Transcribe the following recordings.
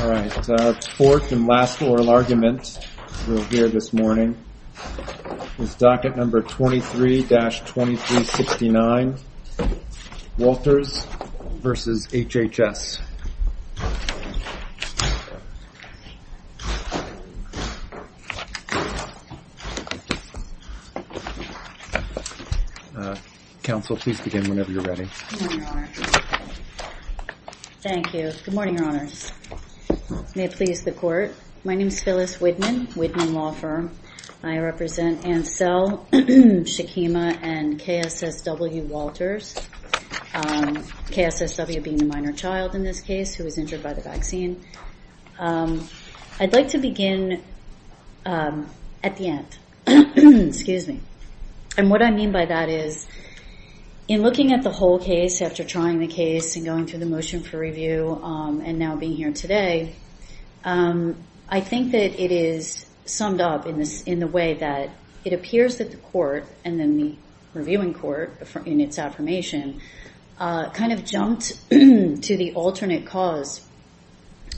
All right, fourth and last oral argument we'll hear this morning is docket number 23-2369, Walters v. HHS. Counsel, please begin whenever you're ready. Good morning, Your Honor. Thank you. Good morning, Your Honors. May it please the court. My name is Phyllis Widman, Widman Law Firm. I represent Ansel, Shakima, and KSSW Walters, KSSW being the minor child in this case who was injured by the vaccine. I'd like to begin at the end. Excuse me. And what I mean by that is in looking at the whole case after trying the case and going through the motion for review and now being here today, I think that it is summed up in the way that it appears that the court and then the reviewing court in its affirmation kind of jumped to the alternate cause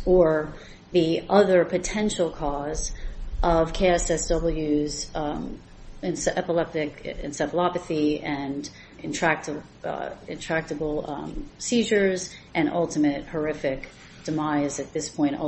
or the other potential cause of KSSW's epileptic encephalopathy and intractable seizures and ultimate horrific demise at this point, first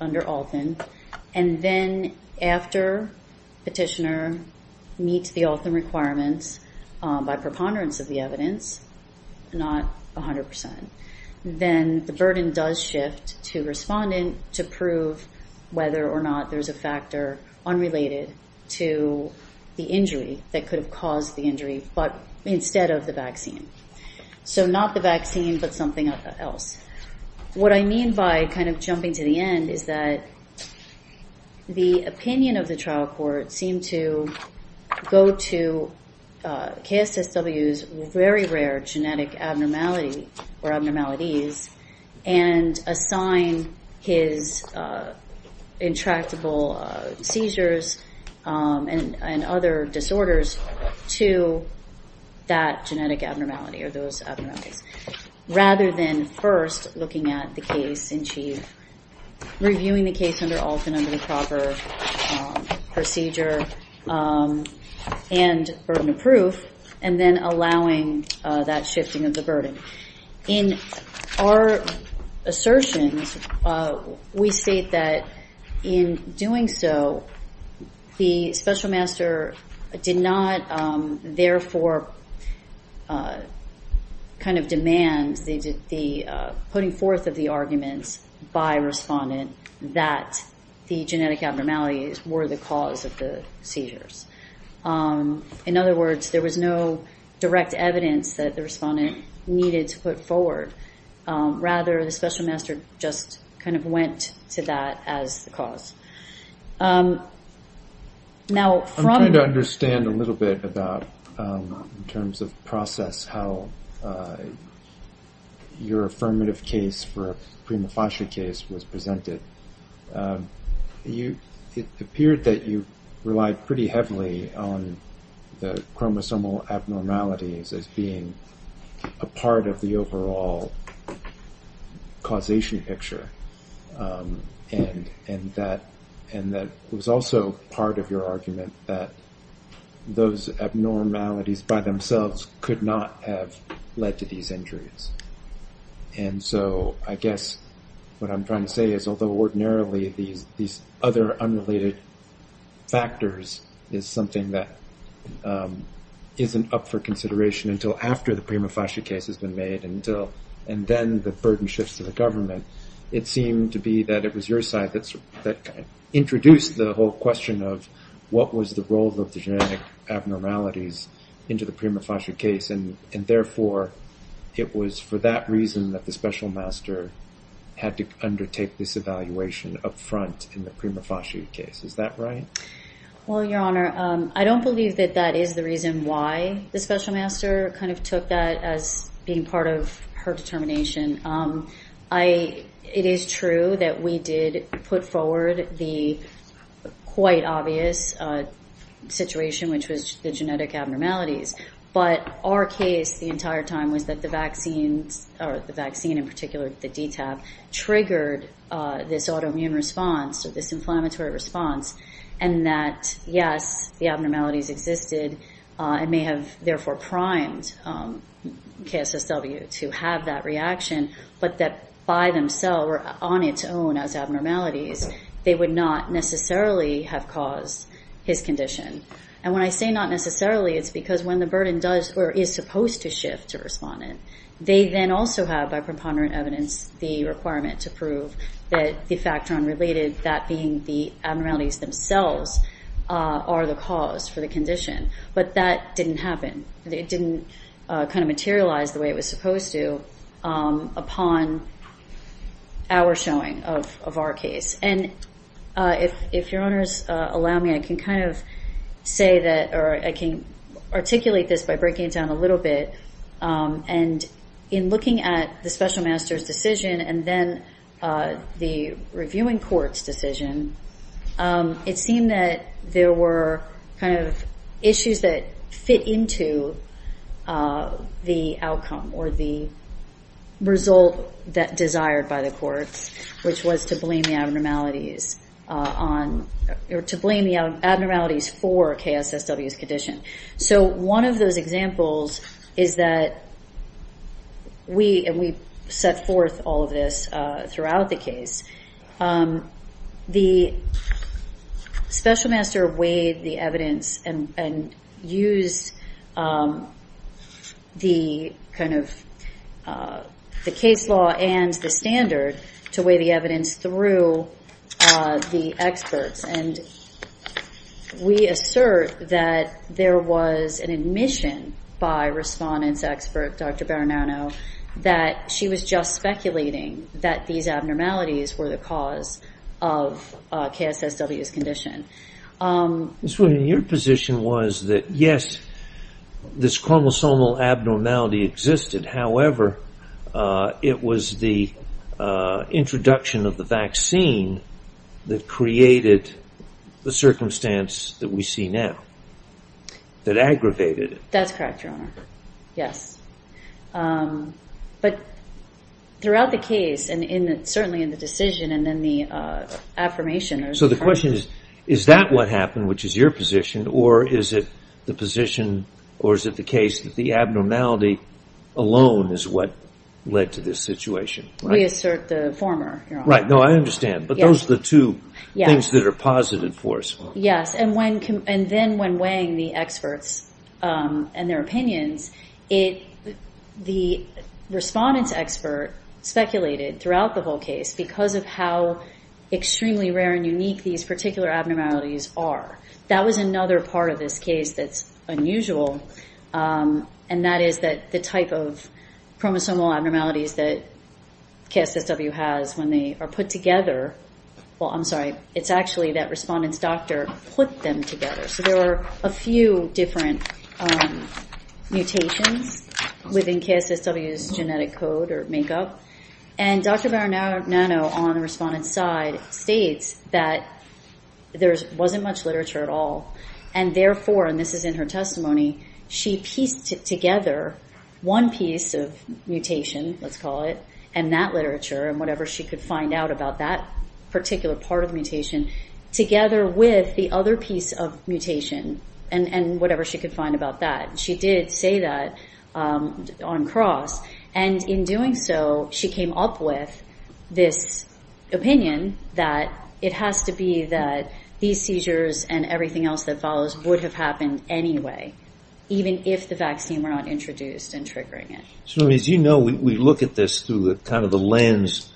under Alton, and then after petitioner meets the Alton requirements by preponderance of the evidence, not 100%, then the burden does shift to respondent to prove whether or not there's a factor unrelated to the injury that could have caused the injury, but instead of the vaccine. So not the vaccine, but something else. What I mean by kind of jumping to the end is that the opinion of the trial court seemed to go to KSSW's very rare genetic abnormality or abnormalities and assign his intractable seizures and other disorders to that genetic abnormality or those abnormalities, rather than first looking at the case in chief, reviewing the case under Alton under the proper procedure and burden of proof, and then allowing that shifting of the burden. In our assertions, we state that in doing so, the special master did not therefore kind of demand the putting forth of the arguments by respondent that the genetic abnormalities were the cause of the seizures. In other words, there was no direct evidence that the respondent needed to put forward. Rather, the special master just kind of went to that as the cause. I'm trying to understand a little bit about, in terms of process, how your affirmative case for a prima facie case was presented. It appeared that you relied pretty heavily on the chromosomal abnormalities as being a part of the overall causation picture, and that it was also part of your argument that those abnormalities by themselves could not have led to these injuries. And so I guess what I'm trying to say is, although ordinarily these other unrelated factors is something that isn't up for consideration until after the prima facie case has been made, and then the burden shifts to the government, it seemed to be that it was your side that introduced the whole question of what was the role of the genetic abnormalities into the prima facie case, and therefore it was for that reason that the special master had to undertake this evaluation up front in the prima facie case. Is that right? Well, Your Honor, I don't believe that that is the reason why the special master kind of took that as being part of her determination. It is true that we did put forward the quite obvious situation, which was the genetic abnormalities, but our case the entire time was that the vaccines, or the vaccine in particular, the DTaP, triggered this autoimmune response or this inflammatory response, and that, yes, the abnormalities existed and may have therefore primed KSSW to have that reaction, but that by themselves or on its own as abnormalities, they would not necessarily have caused his condition. And when I say not necessarily, it's because when the burden does or is supposed to shift to respondent, they then also have by preponderant evidence the requirement to prove that the factor unrelated, that being the abnormalities themselves, are the cause for the condition. But that didn't happen. It didn't kind of materialize the way it was supposed to upon our showing of our case. And if your honors allow me, I can kind of say that, or I can articulate this by breaking it down a little bit, and in looking at the special master's decision and then the reviewing court's decision, it seemed that there were kind of issues that fit into the outcome or the result that desired by the courts, which was to blame the abnormalities on, or to blame the abnormalities for KSSW's condition. So one of those examples is that we, and we set forth all of this throughout the case, the special master weighed the evidence and used the kind of the case law and the standard to weigh the evidence through the experts. And we assert that there was an admission by respondent's expert, Dr. Baronano, that she was just speculating that these abnormalities were the cause of KSSW's condition. Ms. Wooten, your position was that, yes, this chromosomal abnormality existed. However, it was the introduction of the vaccine that created the circumstance that we see now, that aggravated it. That's correct, your honor. Yes. But throughout the case and certainly in the decision and then the affirmation... So the question is, is that what happened, which is your position, or is it the position, or is it the case that the abnormality alone is what led to this situation? We assert the former, your honor. Right, no, I understand, but those are the two things that are positive for us. Yes, and then when weighing the experts and their opinions, the respondent's expert speculated throughout the whole case because of how extremely rare and unique these particular abnormalities are. That was another part of this case that's unusual, and that is that the type of chromosomal abnormalities that KSSW has when they are put together... Well, I'm sorry, it's actually that respondent's doctor put them together. So there were a few different mutations within KSSW's genetic code or makeup, and Dr. Baranano on the respondent's side states that there wasn't much literature at all, and therefore, and this is in her testimony, she pieced together one piece of mutation, let's call it, and that literature and whatever she could find out about that particular part of the mutation together with the other piece of mutation and whatever she could find about that. She did say that on cross, and in doing so, she came up with this opinion that it has to be that these seizures and everything else that follows would have happened anyway, even if the vaccine were not introduced and triggering it. So as you know, we look at this through kind of the lens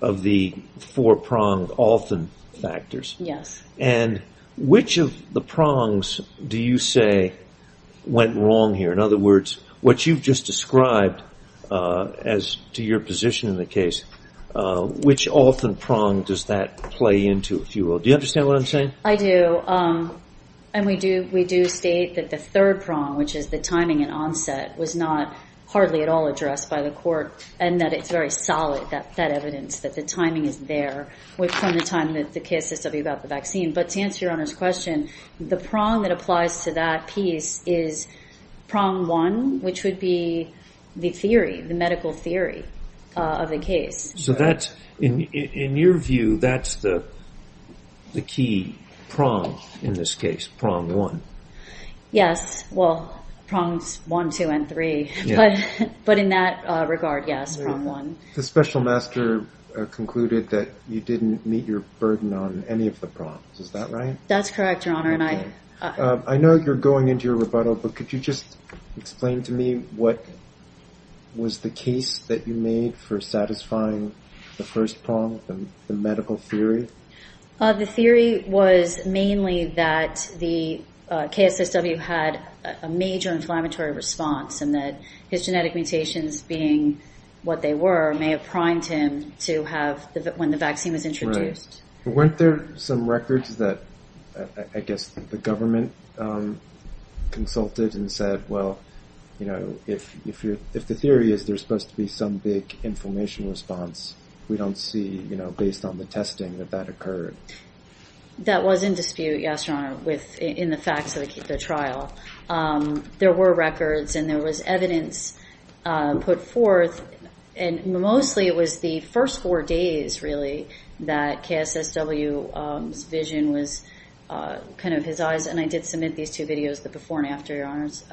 of the four-pronged often factors, and which of the prongs do you say went wrong here? In other words, what you've just described as to your position in the case, which often prong does that play into, if you will? Do you understand what I'm saying? I do, and we do state that the third prong, which is the timing and onset, was not hardly at all addressed by the court, and that it's very solid, that evidence that the timing is there from the time that the case is talking about the vaccine, but to answer your Honor's question, the prong that applies to that piece is prong one, which would be the theory, the medical theory of the case. So in your view, that's the key prong in this case, prong one. Yes, well, prongs one, two, and three, but in that regard, yes, prong one. The special master concluded that you didn't meet your burden on any of the prongs, is that right? That's correct, Your Honor. I know you're going into your rebuttal, but could you just explain to me what was the case that you made for satisfying the first prong, the medical theory? The theory was mainly that the KSSW had a major inflammatory response and that his genetic mutations being what they were may have primed him to have, when the vaccine was introduced. Right. Weren't there some records that, I guess, the government consulted and said, well, if the theory is there's supposed to be some big inflammation response, we don't see, based on the testing, that that occurred. That was in dispute, yes, Your Honor, in the facts of the trial. There were records and there was evidence put forth, and mostly it was the first four days, really, that KSSW's vision was kind of his eyes, and I did submit these two videos, the before and after, Your Honors,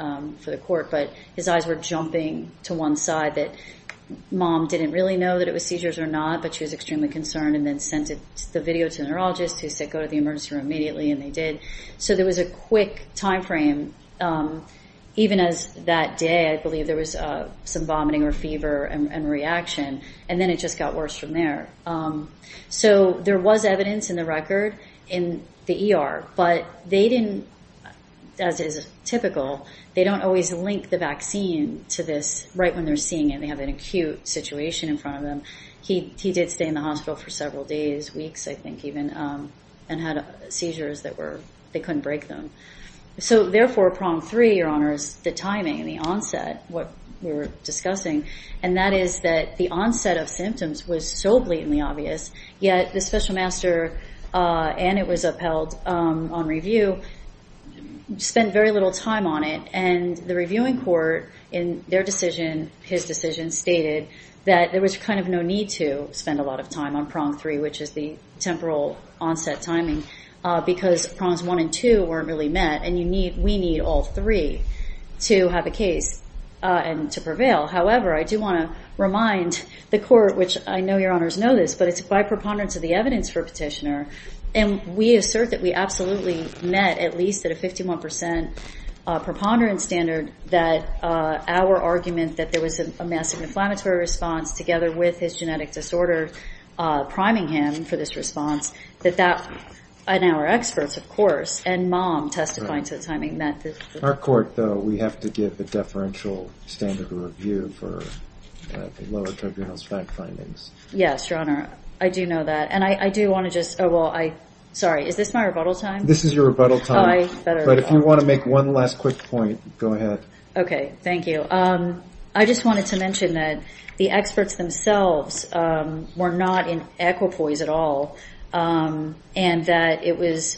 for the court, but his eyes were jumping to one side that mom didn't really know that it was seizures or not, but she was extremely concerned and then sent the video to the neurologist, who said go to the emergency room immediately, and they did. So there was a quick time frame, even as that day, I believe, there was some vomiting or fever and reaction, and then it just got worse from there. So there was evidence in the record in the ER, but they didn't, as is typical, they don't always link the vaccine to this right when they're seeing it. They have an acute situation in front of them. He did stay in the hospital for several days, weeks, I think, even, and had seizures that were, they couldn't break them. So therefore, prong three, Your Honors, the timing and the onset, what we were discussing, and that is that the onset of symptoms was so blatantly obvious, yet the special master, and it was upheld on review, spent very little time on it, and the reviewing court in their decision, his decision, stated that there was kind of no need to spend a lot of time on prong three, which is the temporal onset timing, because prongs one and two weren't really met, and we need all three to have a case and to prevail. However, I do want to remind the court, which I know Your Honors know this, but it's by preponderance of the evidence for a petitioner, and we assert that we absolutely met, at least at a 51% preponderance standard, that our argument that there was a massive inflammatory response together with his genetic disorder, priming him for this response, that that, and our experts, of course, and Mom testifying to the timing met. Our court, though, we have to give a deferential standard of review for the lower tribunal's fact findings. Yes, Your Honor. I do know that, and I do want to just, oh, well, I, sorry, is this my rebuttal time? This is your rebuttal time, but if you want to make one last quick point, go ahead. Okay, thank you. I just wanted to mention that the experts themselves were not in equipoise at all, and that it was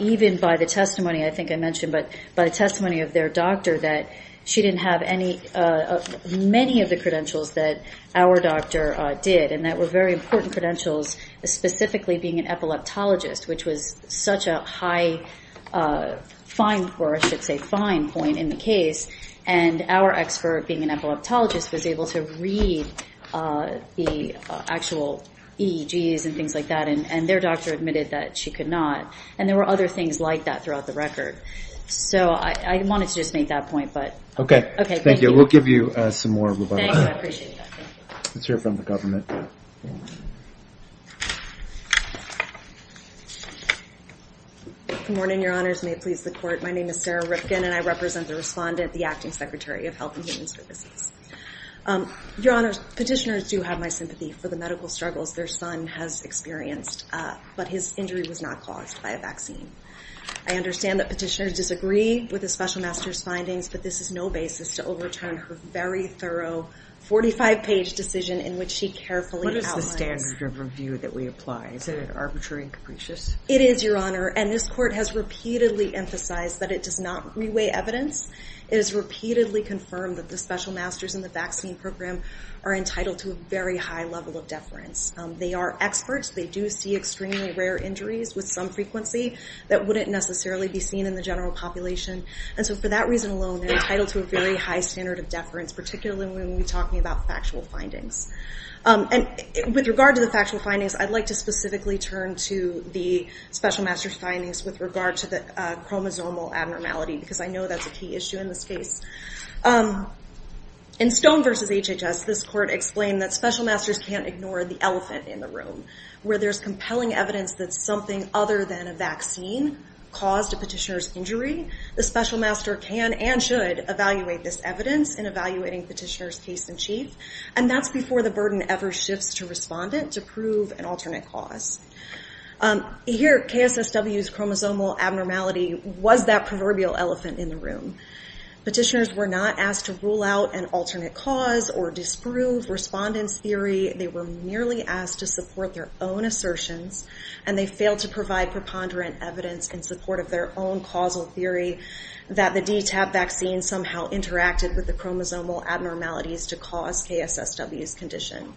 even by the testimony, I think I mentioned, but by the testimony of their doctor, that she didn't have any, many of the credentials that our doctor did, and that were very important credentials, specifically being an epileptologist, which was such a high fine, or I should say fine point in the case, and our expert, being an epileptologist, was able to read the actual EEGs and things like that, and their doctor admitted that she could not, and there were other things like that throughout the record. So I wanted to just make that point. Okay. Thank you. We'll give you some more rebuttals. Thank you. I appreciate that. Let's hear from the government. Good morning, Your Honors. May it please the Court. My name is Sarah Rifkin, and I represent the respondent, the Acting Secretary of Health and Human Services. Your Honors, petitioners do have my sympathy for the medical struggles their son has experienced, but his injury was not caused by a vaccine. I understand that petitioners disagree with the Special Master's findings, but this is no basis to overturn her very thorough 45-page decision in which she carefully outlines. What is the standard of review that we apply? Is it arbitrary and capricious? It is, Your Honor, and this Court has repeatedly emphasized that it does not reweigh evidence. It is repeatedly confirmed that the Special Masters in the vaccine program are entitled to a very high level of deference. They are experts. They do see extremely rare injuries with some frequency that wouldn't necessarily be seen in the general population. And so for that reason alone, they're entitled to a very high standard of deference, particularly when we're talking about factual findings. And with regard to the factual findings, I'd like to specifically turn to the Special Master's findings with regard to the chromosomal abnormality because I know that's a key issue in this case. In Stone v. HHS, this Court explained that Special Masters can't ignore the elephant in the room, where there's compelling evidence that something other than a vaccine caused a petitioner's injury. The Special Master can and should evaluate this evidence in evaluating petitioner's case in chief, and that's before the burden ever shifts to respondent to prove an alternate cause. Here, KSSW's chromosomal abnormality was that proverbial elephant in the room. Petitioners were not asked to rule out an alternate cause or disprove respondent's theory. They were merely asked to support their own assertions, and they failed to provide preponderant evidence in support of their own causal theory that the DTaP vaccine somehow interacted with the chromosomal abnormalities to cause KSSW's condition.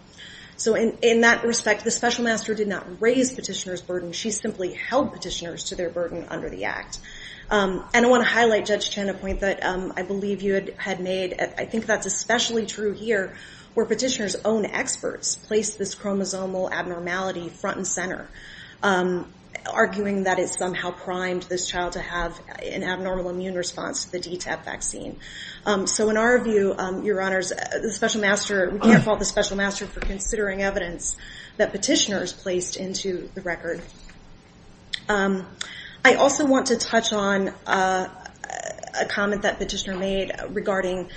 So in that respect, the Special Master did not raise petitioner's burden. She simply held petitioners to their burden under the Act. And I want to highlight, Judge Chen, a point that I believe you had made. I think that's especially true here, where petitioner's own experts placed this chromosomal abnormality front and center, arguing that it somehow primed this child to have an abnormal immune response to the DTaP vaccine. So in our view, Your Honors, we can't fault the Special Master for considering evidence that petitioners placed into the record. I also want to touch on a comment that petitioner made regarding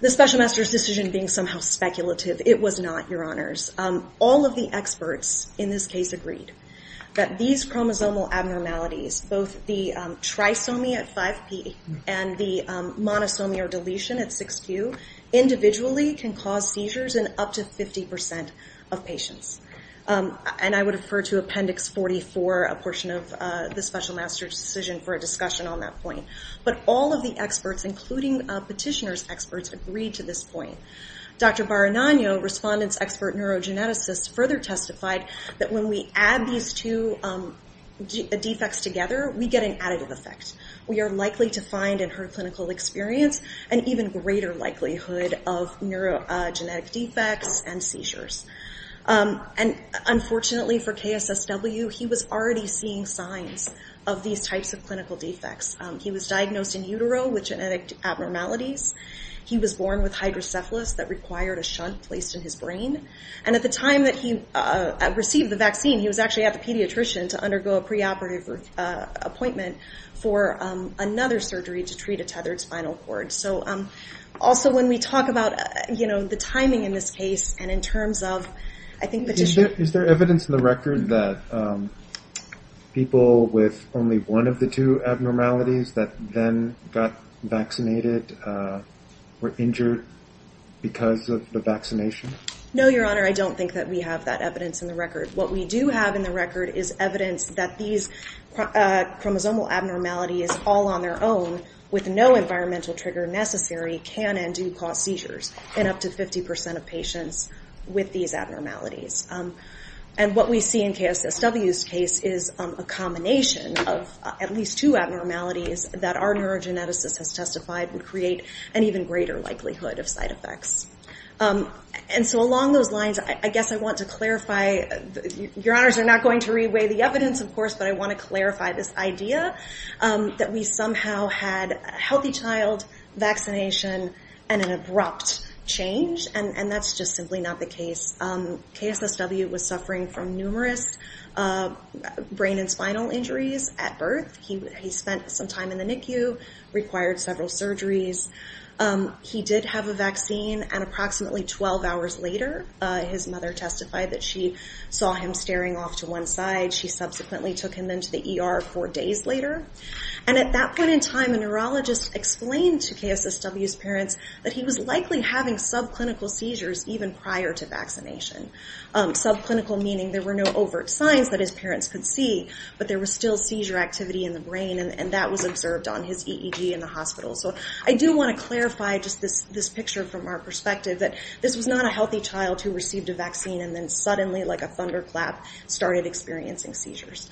the Special Master's decision being somehow speculative. It was not, Your Honors. All of the experts in this case agreed that these chromosomal abnormalities, both the trisomy at 5P and the monosomy or deletion at 6Q, individually can cause seizures in up to 50% of patients. And I would refer to Appendix 44, a portion of the Special Master's decision, for a discussion on that point. But all of the experts, including petitioner's experts, agreed to this point. Dr. Baranagno, respondent's expert neurogeneticist, further testified that when we add these two defects together, we get an additive effect. We are likely to find in her clinical experience an even greater likelihood of neurogenetic defects and seizures. And unfortunately for KSSW, he was already seeing signs of these types of clinical defects. He was diagnosed in utero with genetic abnormalities. He was born with hydrocephalus that required a shunt placed in his brain. And at the time that he received the vaccine, he was actually at the pediatrician to undergo a preoperative appointment for another surgery to treat a tethered spinal cord. So also when we talk about, you know, the timing in this case and in terms of, I think, the tissue. Is there evidence in the record that people with only one of the two abnormalities that then got vaccinated were injured because of the vaccination? No, Your Honor, I don't think that we have that evidence in the record. What we do have in the record is evidence that these chromosomal abnormalities all on their own, with no environmental trigger necessary, can and do cause seizures in up to 50 percent of patients with these abnormalities. And what we see in KSSW's case is a combination of at least two abnormalities that our neurogeneticist has testified would create an even greater likelihood of side effects. And so along those lines, I guess I want to clarify. Your honors are not going to reweigh the evidence, of course, but I want to clarify this idea that we somehow had a healthy child vaccination and an abrupt change. And that's just simply not the case. KSSW was suffering from numerous brain and spinal injuries at birth. He spent some time in the NICU, required several surgeries. He did have a vaccine. And approximately 12 hours later, his mother testified that she saw him staring off to one side. She subsequently took him into the ER four days later. And at that point in time, a neurologist explained to KSSW's parents that he was likely having subclinical seizures even prior to vaccination. Subclinical meaning there were no overt signs that his parents could see, but there was still seizure activity in the brain. And that was observed on his EEG in the hospital. So I do want to clarify just this this picture from our perspective that this was not a healthy child who received a vaccine. And then suddenly, like a thunderclap, started experiencing seizures.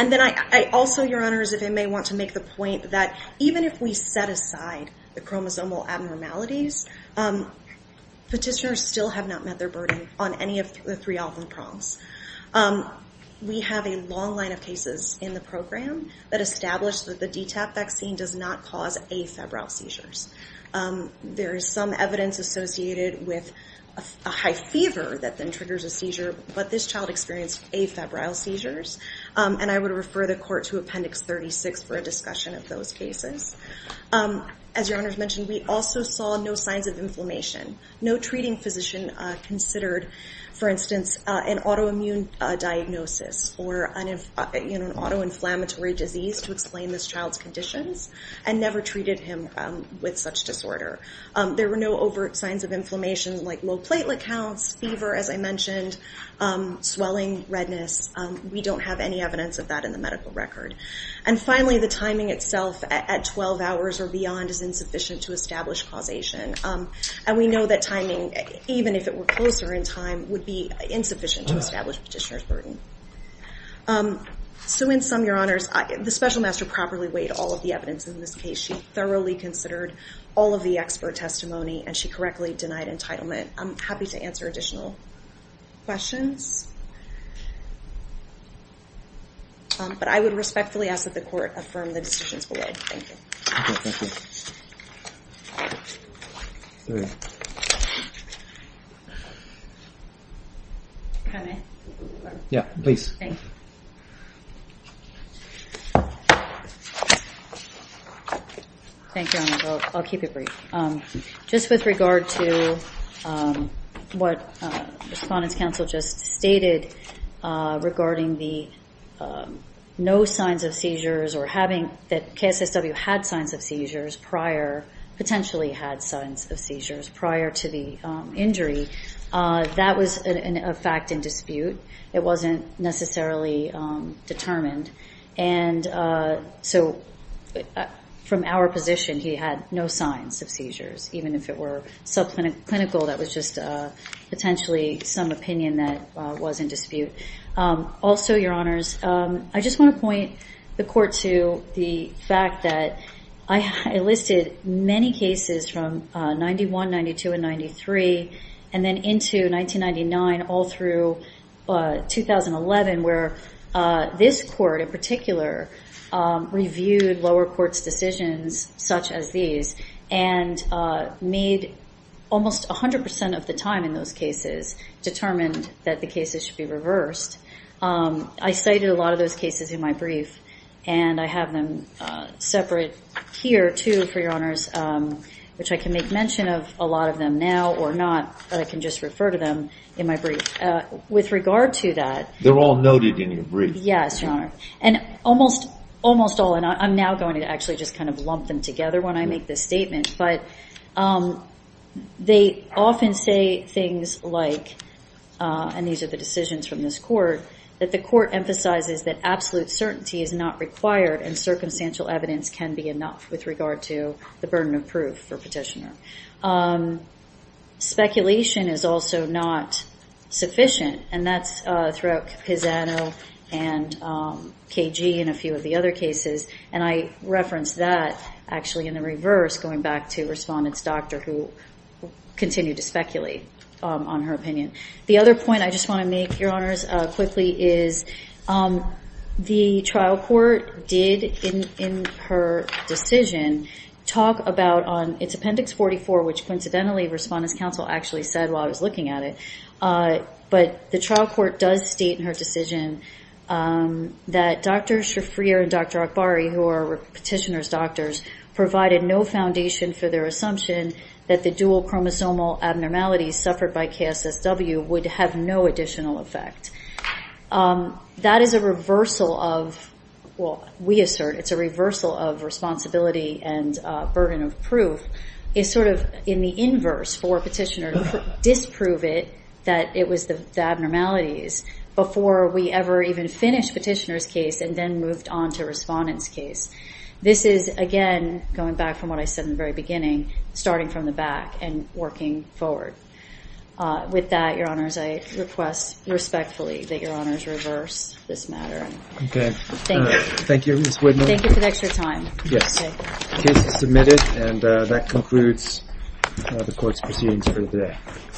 And then I also, your honors, if I may want to make the point that even if we set aside the chromosomal abnormalities, petitioners still have not met their burden on any of the three problems. We have a long line of cases in the program that established that the DTaP vaccine does not cause afebrile seizures. There is some evidence associated with a high fever that then triggers a seizure. But this child experienced afebrile seizures. And I would refer the court to Appendix 36 for a discussion of those cases. As your honors mentioned, we also saw no signs of inflammation, no treating physician considered. For instance, an autoimmune diagnosis or an autoinflammatory disease to explain this child's conditions and never treated him with such disorder. There were no overt signs of inflammation like low platelet counts, fever, as I mentioned, swelling, redness. We don't have any evidence of that in the medical record. And finally, the timing itself at 12 hours or beyond is insufficient to establish causation. And we know that timing, even if it were closer in time, would be insufficient to establish petitioner's burden. So in sum, your honors, the special master properly weighed all of the evidence in this case. She thoroughly considered all of the expert testimony and she correctly denied entitlement. I'm happy to answer additional questions. But I would respectfully ask that the court affirm the decisions below. Thank you. Thank you. Thank you. Can I? Yeah, please. Thanks. Thank you, your honor. I'll keep it brief. Just with regard to what Respondent's counsel just stated regarding the no signs of seizures or having that KSSW had signs of seizures prior, potentially had signs of seizures prior to the injury, that was a fact in dispute. It wasn't necessarily determined. And so from our position, he had no signs of seizures, even if it were subclinical. That was just potentially some opinion that was in dispute. Also, your honors, I just want to point the court to the fact that I listed many cases from 91, 92, and 93, and then into 1999 all through 2011, where this court in particular reviewed lower courts' decisions such as these and made almost 100% of the time in those cases determined that the cases should be reversed. I cited a lot of those cases in my brief, and I have them separate here, too, for your honors, which I can make mention of a lot of them now or not, but I can just refer to them in my brief. With regard to that… They're all noted in your brief. Yes, your honor. And almost all, and I'm now going to actually just kind of lump them together when I make this statement, but they often say things like, and these are the decisions from this court, that the court emphasizes that absolute certainty is not required and circumstantial evidence can be enough with regard to the burden of proof for petitioner. Speculation is also not sufficient, and that's throughout Pisano and KG and a few of the other cases, and I referenced that actually in the reverse going back to Respondent's doctor, who continued to speculate on her opinion. The other point I just want to make, your honors, quickly is the trial court did, in her decision, talk about on its appendix 44, which coincidentally Respondent's counsel actually said while I was looking at it, but the trial court does state in her decision that Dr. Shafrir and Dr. Akbari, who are petitioner's doctors, provided no foundation for their assumption that the dual chromosomal abnormalities suffered by KSSW would have no additional effect. That is a reversal of, well, we assert it's a reversal of responsibility and burden of proof. It's sort of in the inverse for a petitioner to disprove it, that it was the abnormalities, before we ever even finished petitioner's case and then moved on to Respondent's case. This is, again, going back from what I said in the very beginning, starting from the back and working forward. With that, your honors, I request respectfully that your honors reverse this matter. Okay. Thank you. Thank you, Ms. Widner. Thank you for the extra time. The case is submitted and that concludes the court's proceedings for today.